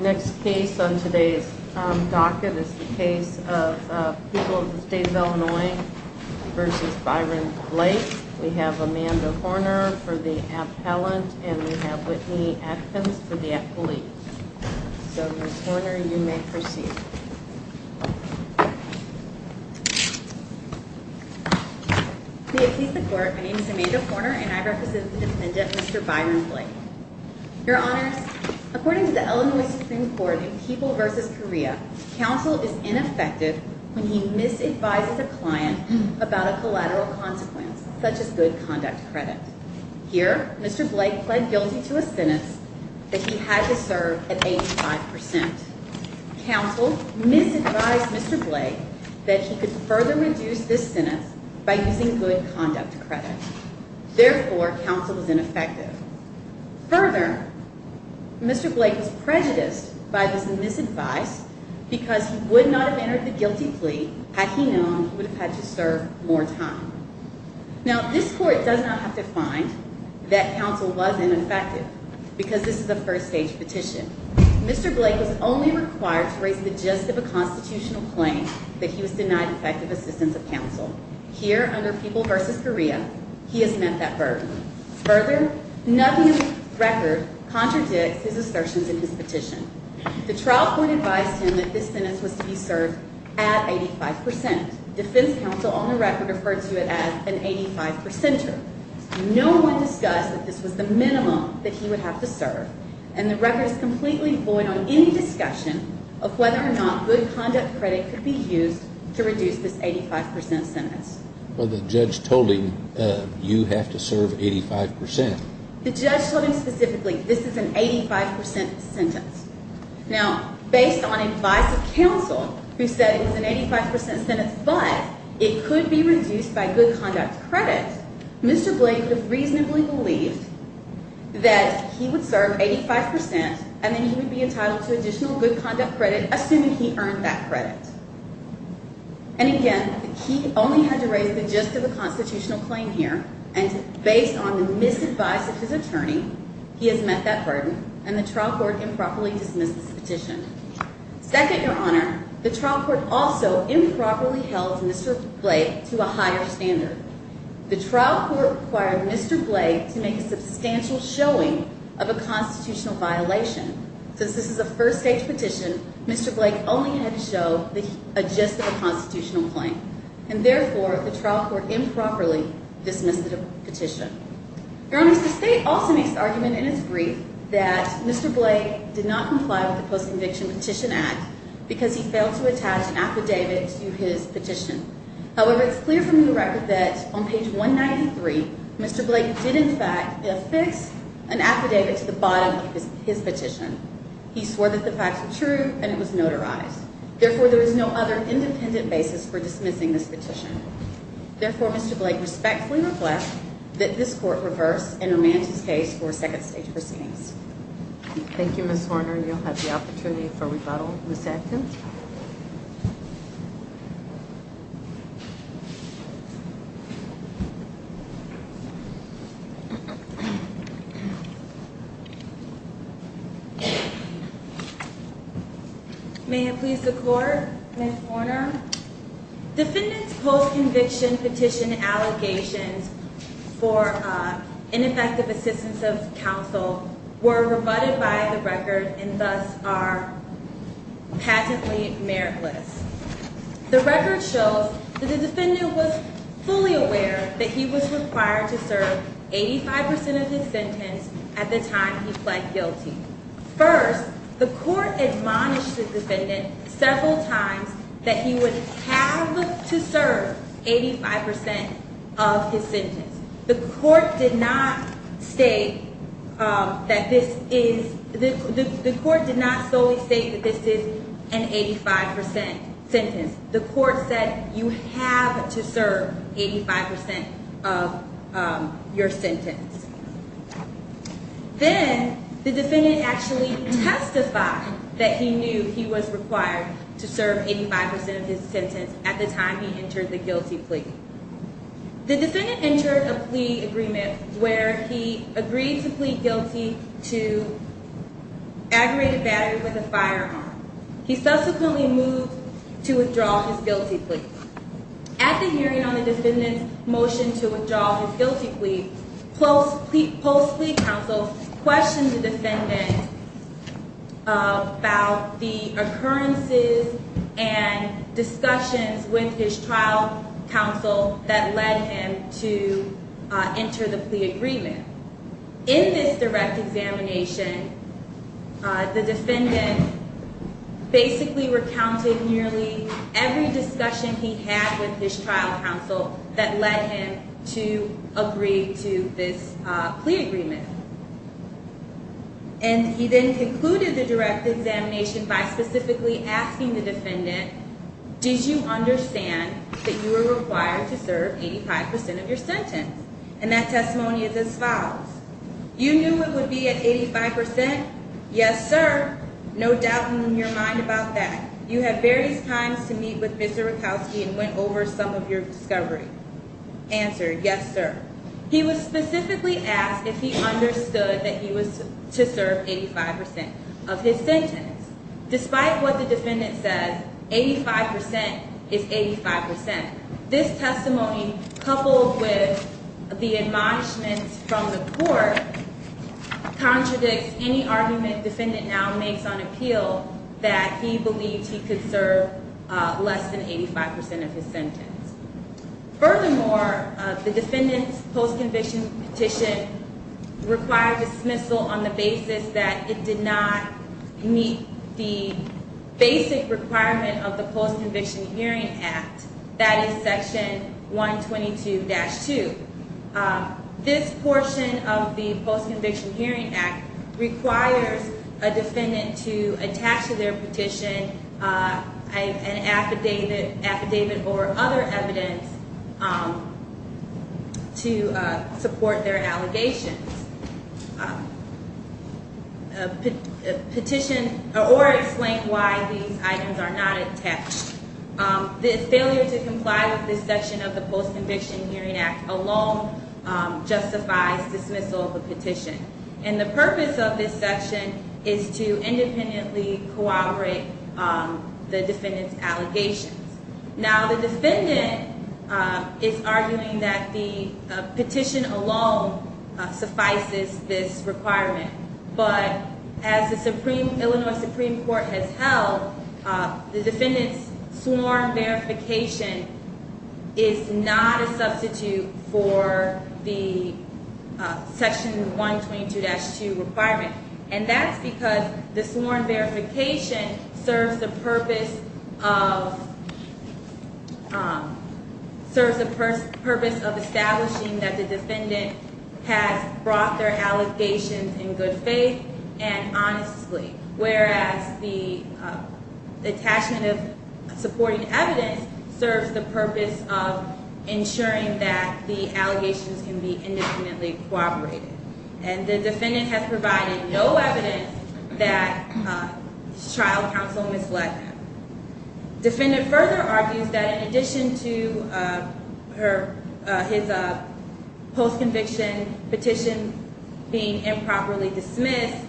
Next case on today's docket is the case of People of the State of Illinois v. Byron Blake. We have Amanda Horner for the appellant, and we have Whitney Atkins for the appellee. So, Ms. Horner, you may proceed. May it please the Court, my name is Amanda Horner, and I represent the defendant, Mr. Byron Blake. Your Honors, according to the Illinois Supreme Court in People v. Korea, counsel is ineffective when he misadvises a client about a collateral consequence, such as good conduct credit. Here, Mr. Blake pled guilty to a sentence that he had to serve at 85%. Counsel misadvised Mr. Blake that he could further reduce this sentence by using good conduct credit. Therefore, counsel is ineffective. Further, Mr. Blake was prejudiced by this misadvice because he would not have entered the guilty plea had he known he would have had to serve more time. Now, this Court does not have to find that counsel was ineffective because this is a first-stage petition. Mr. Blake was only required to raise the gist of a constitutional claim that he was denied effective assistance of counsel. Here, under People v. Korea, he has met that burden. Further, nothing in the record contradicts his assertions in his petition. The trial court advised him that this sentence was to be served at 85%. Defense counsel on the record referred to it as an 85%er. No one discussed that this was the minimum that he would have to serve, and the record is completely void on any discussion of whether or not good conduct credit could be used to reduce this 85% sentence. Well, the judge told him you have to serve 85%. The judge told him specifically this is an 85% sentence. Now, based on advice of counsel, who said it was an 85% sentence but it could be reduced by good conduct credit, Mr. Blake reasonably believed that he would serve 85% and then he would be entitled to additional good conduct credit, assuming he earned that credit. And again, he only had to raise the gist of a constitutional claim here, and based on the misadvice of his attorney, he has met that burden, and the trial court improperly dismissed this petition. Second, Your Honor, the trial court also improperly held Mr. Blake to a higher standard. The trial court required Mr. Blake to make a substantial showing of a constitutional violation. Since this is a first-stage petition, Mr. Blake only had to show the gist of a constitutional claim, and therefore the trial court improperly dismissed the petition. Your Honor, the state also makes the argument in its brief that Mr. Blake did not comply with the Post-Conviction Petition Act because he failed to attach an affidavit to his petition. However, it's clear from the record that on page 193, Mr. Blake did in fact affix an affidavit to the bottom of his petition. He swore that the facts were true and it was notarized. Therefore, there is no other independent basis for dismissing this petition. Therefore, Mr. Blake respectfully requests that this court reverse and remand his case for second-stage proceedings. Thank you, Ms. Horner, and you'll have the opportunity for rebuttal in a second. May it please the Court, Ms. Horner? Defendants' post-conviction petition allegations for ineffective assistance of counsel were rebutted by the record and thus are patently meritless. The record shows that the defendant was fully aware that he was required to serve 85% of his sentence at the time he pled guilty. First, the court admonished the defendant several times that he would have to serve 85% of his sentence. The court did not solely state that this is an 85% sentence. The court said you have to serve 85% of your sentence. Then, the defendant actually testified that he knew he was required to serve 85% of his sentence at the time he entered the guilty plea. The defendant entered a plea agreement where he agreed to plead guilty to aggravated battery with a firearm. He subsequently moved to withdraw his guilty plea. At the hearing on the defendant's motion to withdraw his guilty plea, post-plea counsel questioned the defendant about the occurrences and discussions with his trial counsel that led him to enter the plea agreement. In this direct examination, the defendant basically recounted nearly every discussion he had with his trial counsel that led him to agree to this plea agreement. He then concluded the direct examination by specifically asking the defendant, did you understand that you were required to serve 85% of your sentence? That testimony is as follows. You knew it would be at 85%? Yes, sir. No doubt in your mind about that. You had various times to meet with Mr. Rakowski and went over some of your discovery. Answer, yes, sir. He was specifically asked if he understood that he was to serve 85% of his sentence. Despite what the defendant says, 85% is 85%. This testimony, coupled with the admonishments from the court, contradicts any argument defendant now makes on appeal that he believed he could serve less than 85% of his sentence. Furthermore, the defendant's post-conviction petition required dismissal on the basis that it did not meet the basic requirement of the Post-Conviction Hearing Act, that is Section 122-2. This portion of the Post-Conviction Hearing Act requires a defendant to attach to their petition an affidavit or other evidence to support their allegations or explain why these items are not attached. The failure to comply with this section of the Post-Conviction Hearing Act alone justifies dismissal of the petition. And the purpose of this section is to independently cooperate the defendant's allegations. Now the defendant is arguing that the petition alone suffices this requirement. But as the Illinois Supreme Court has held, the defendant's sworn verification is not a substitute for the Section 122-2 requirement. And that's because the sworn verification serves the purpose of establishing that the defendant has brought their allegations in good faith and honestly. Whereas the attachment of supporting evidence serves the purpose of ensuring that the allegations can be independently cooperated. And the defendant has provided no evidence that the trial counsel misled them. The defendant further argues that in addition to his post-conviction petition being improperly dismissed,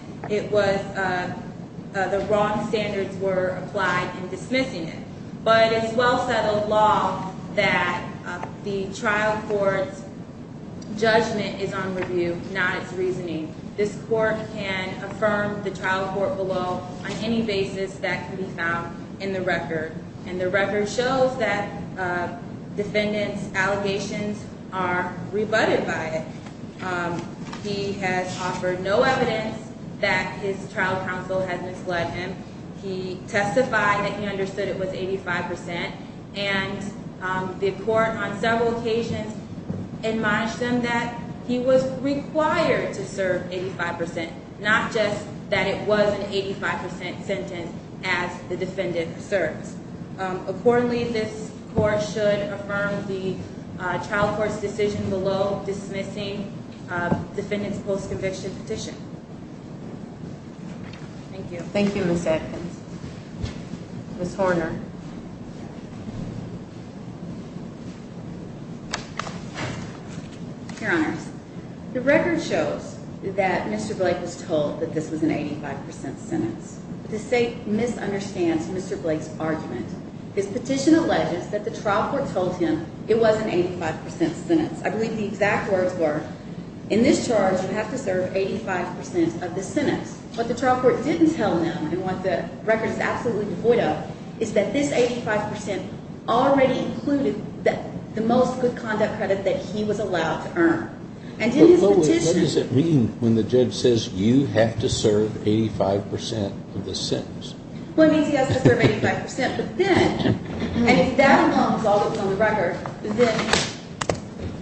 the wrong standards were applied in dismissing it. But it's well-settled law that the trial court's judgment is on review, not its reasoning. This court can affirm the trial court below on any basis that can be found in the record. And the record shows that the defendant's allegations are rebutted by it. He has offered no evidence that his trial counsel has misled him. He testified that he understood it was 85%. And the court on several occasions admonished him that he was required to serve 85%, not just that it was an 85% sentence as the defendant serves. Accordingly, this court should affirm the trial court's decision below dismissing defendant's post-conviction petition. Thank you. Thank you, Ms. Adkins. Ms. Horner. Your Honors, the record shows that Mr. Blake was told that this was an 85% sentence. The state misunderstands Mr. Blake's argument. His petition alleges that the trial court told him it was an 85% sentence. I believe the exact words were, in this charge, you have to serve 85% of the sentence. What the trial court didn't tell him, and what the record is absolutely devoid of, is that this 85% already included the most good conduct credit that he was allowed to earn. And in his petition… But, Lois, what does it mean when the judge says you have to serve 85% of the sentence? Well, it means he has to serve 85%. And if that alone is all that's on the record, then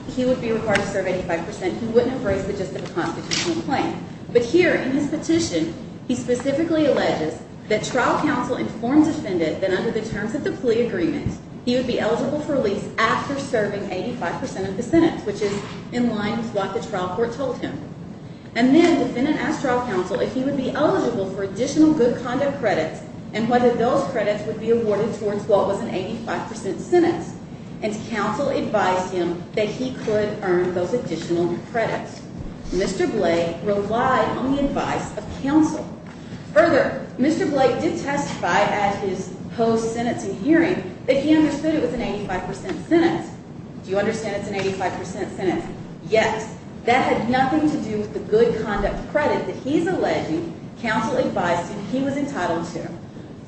he would be required to serve 85%. He wouldn't have raised it just as a constitutional claim. But here, in his petition, he specifically alleges that trial counsel informed defendant that under the terms of the plea agreement, he would be eligible for release after serving 85% of the sentence, which is in line with what the trial court told him. And then defendant asked trial counsel if he would be eligible for additional good conduct credits, and whether those credits would be awarded towards what was an 85% sentence. And counsel advised him that he could earn those additional credits. Mr. Blake relied on the advice of counsel. Further, Mr. Blake did testify at his post-sentencing hearing that he understood it was an 85% sentence. Do you understand it's an 85% sentence? Yes. That had nothing to do with the good conduct credit that he's alleging counsel advised him he was entitled to.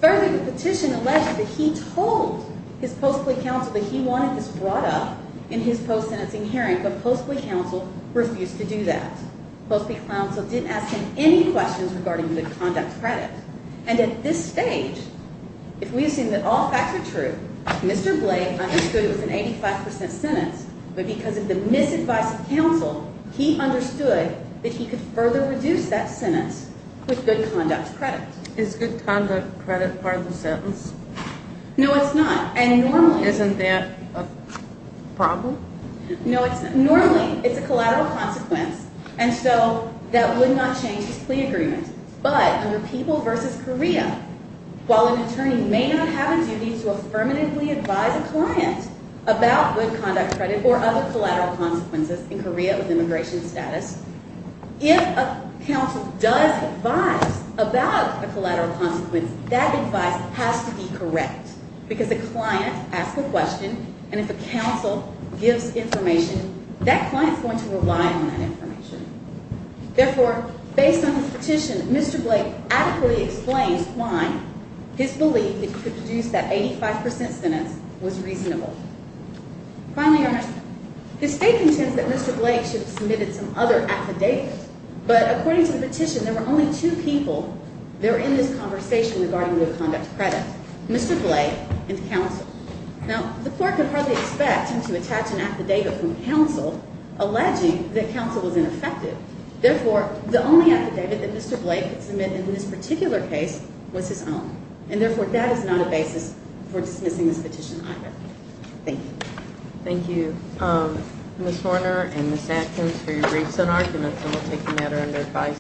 Further, the petition alleges that he told his post-plea counsel that he wanted this brought up in his post-sentencing hearing, but post-plea counsel refused to do that. Post-plea counsel didn't ask him any questions regarding good conduct credit. And at this stage, if we assume that all facts are true, Mr. Blake understood it was an 85% sentence, but because of the misadvice of counsel, he understood that he could further reduce that sentence with good conduct credit. Is good conduct credit part of the sentence? No, it's not. Isn't that a problem? No, it's not. Normally, it's a collateral consequence, and so that would not change his plea agreement. But under People v. Korea, while an attorney may not have a duty to affirmatively advise a client about good conduct credit or other collateral consequences in Korea with immigration status, if a counsel does advise about a collateral consequence, that advice has to be correct. Because a client asks a question, and if a counsel gives information, that client is going to rely on that information. Therefore, based on the petition, Mr. Blake adequately explains why his belief that he could reduce that 85% sentence was reasonable. Finally, the State contends that Mr. Blake should have submitted some other affidavit, but according to the petition, there were only two people there in this conversation regarding good conduct credit, Mr. Blake and counsel. Now, the court could hardly expect him to attach an affidavit from counsel alleging that counsel was ineffective. Therefore, the only affidavit that Mr. Blake could submit in this particular case was his own. And therefore, that is not a basis for dismissing this petition either. Thank you. Thank you, Ms. Horner and Ms. Atkins, for your briefs and arguments, and we'll take the matter under advice.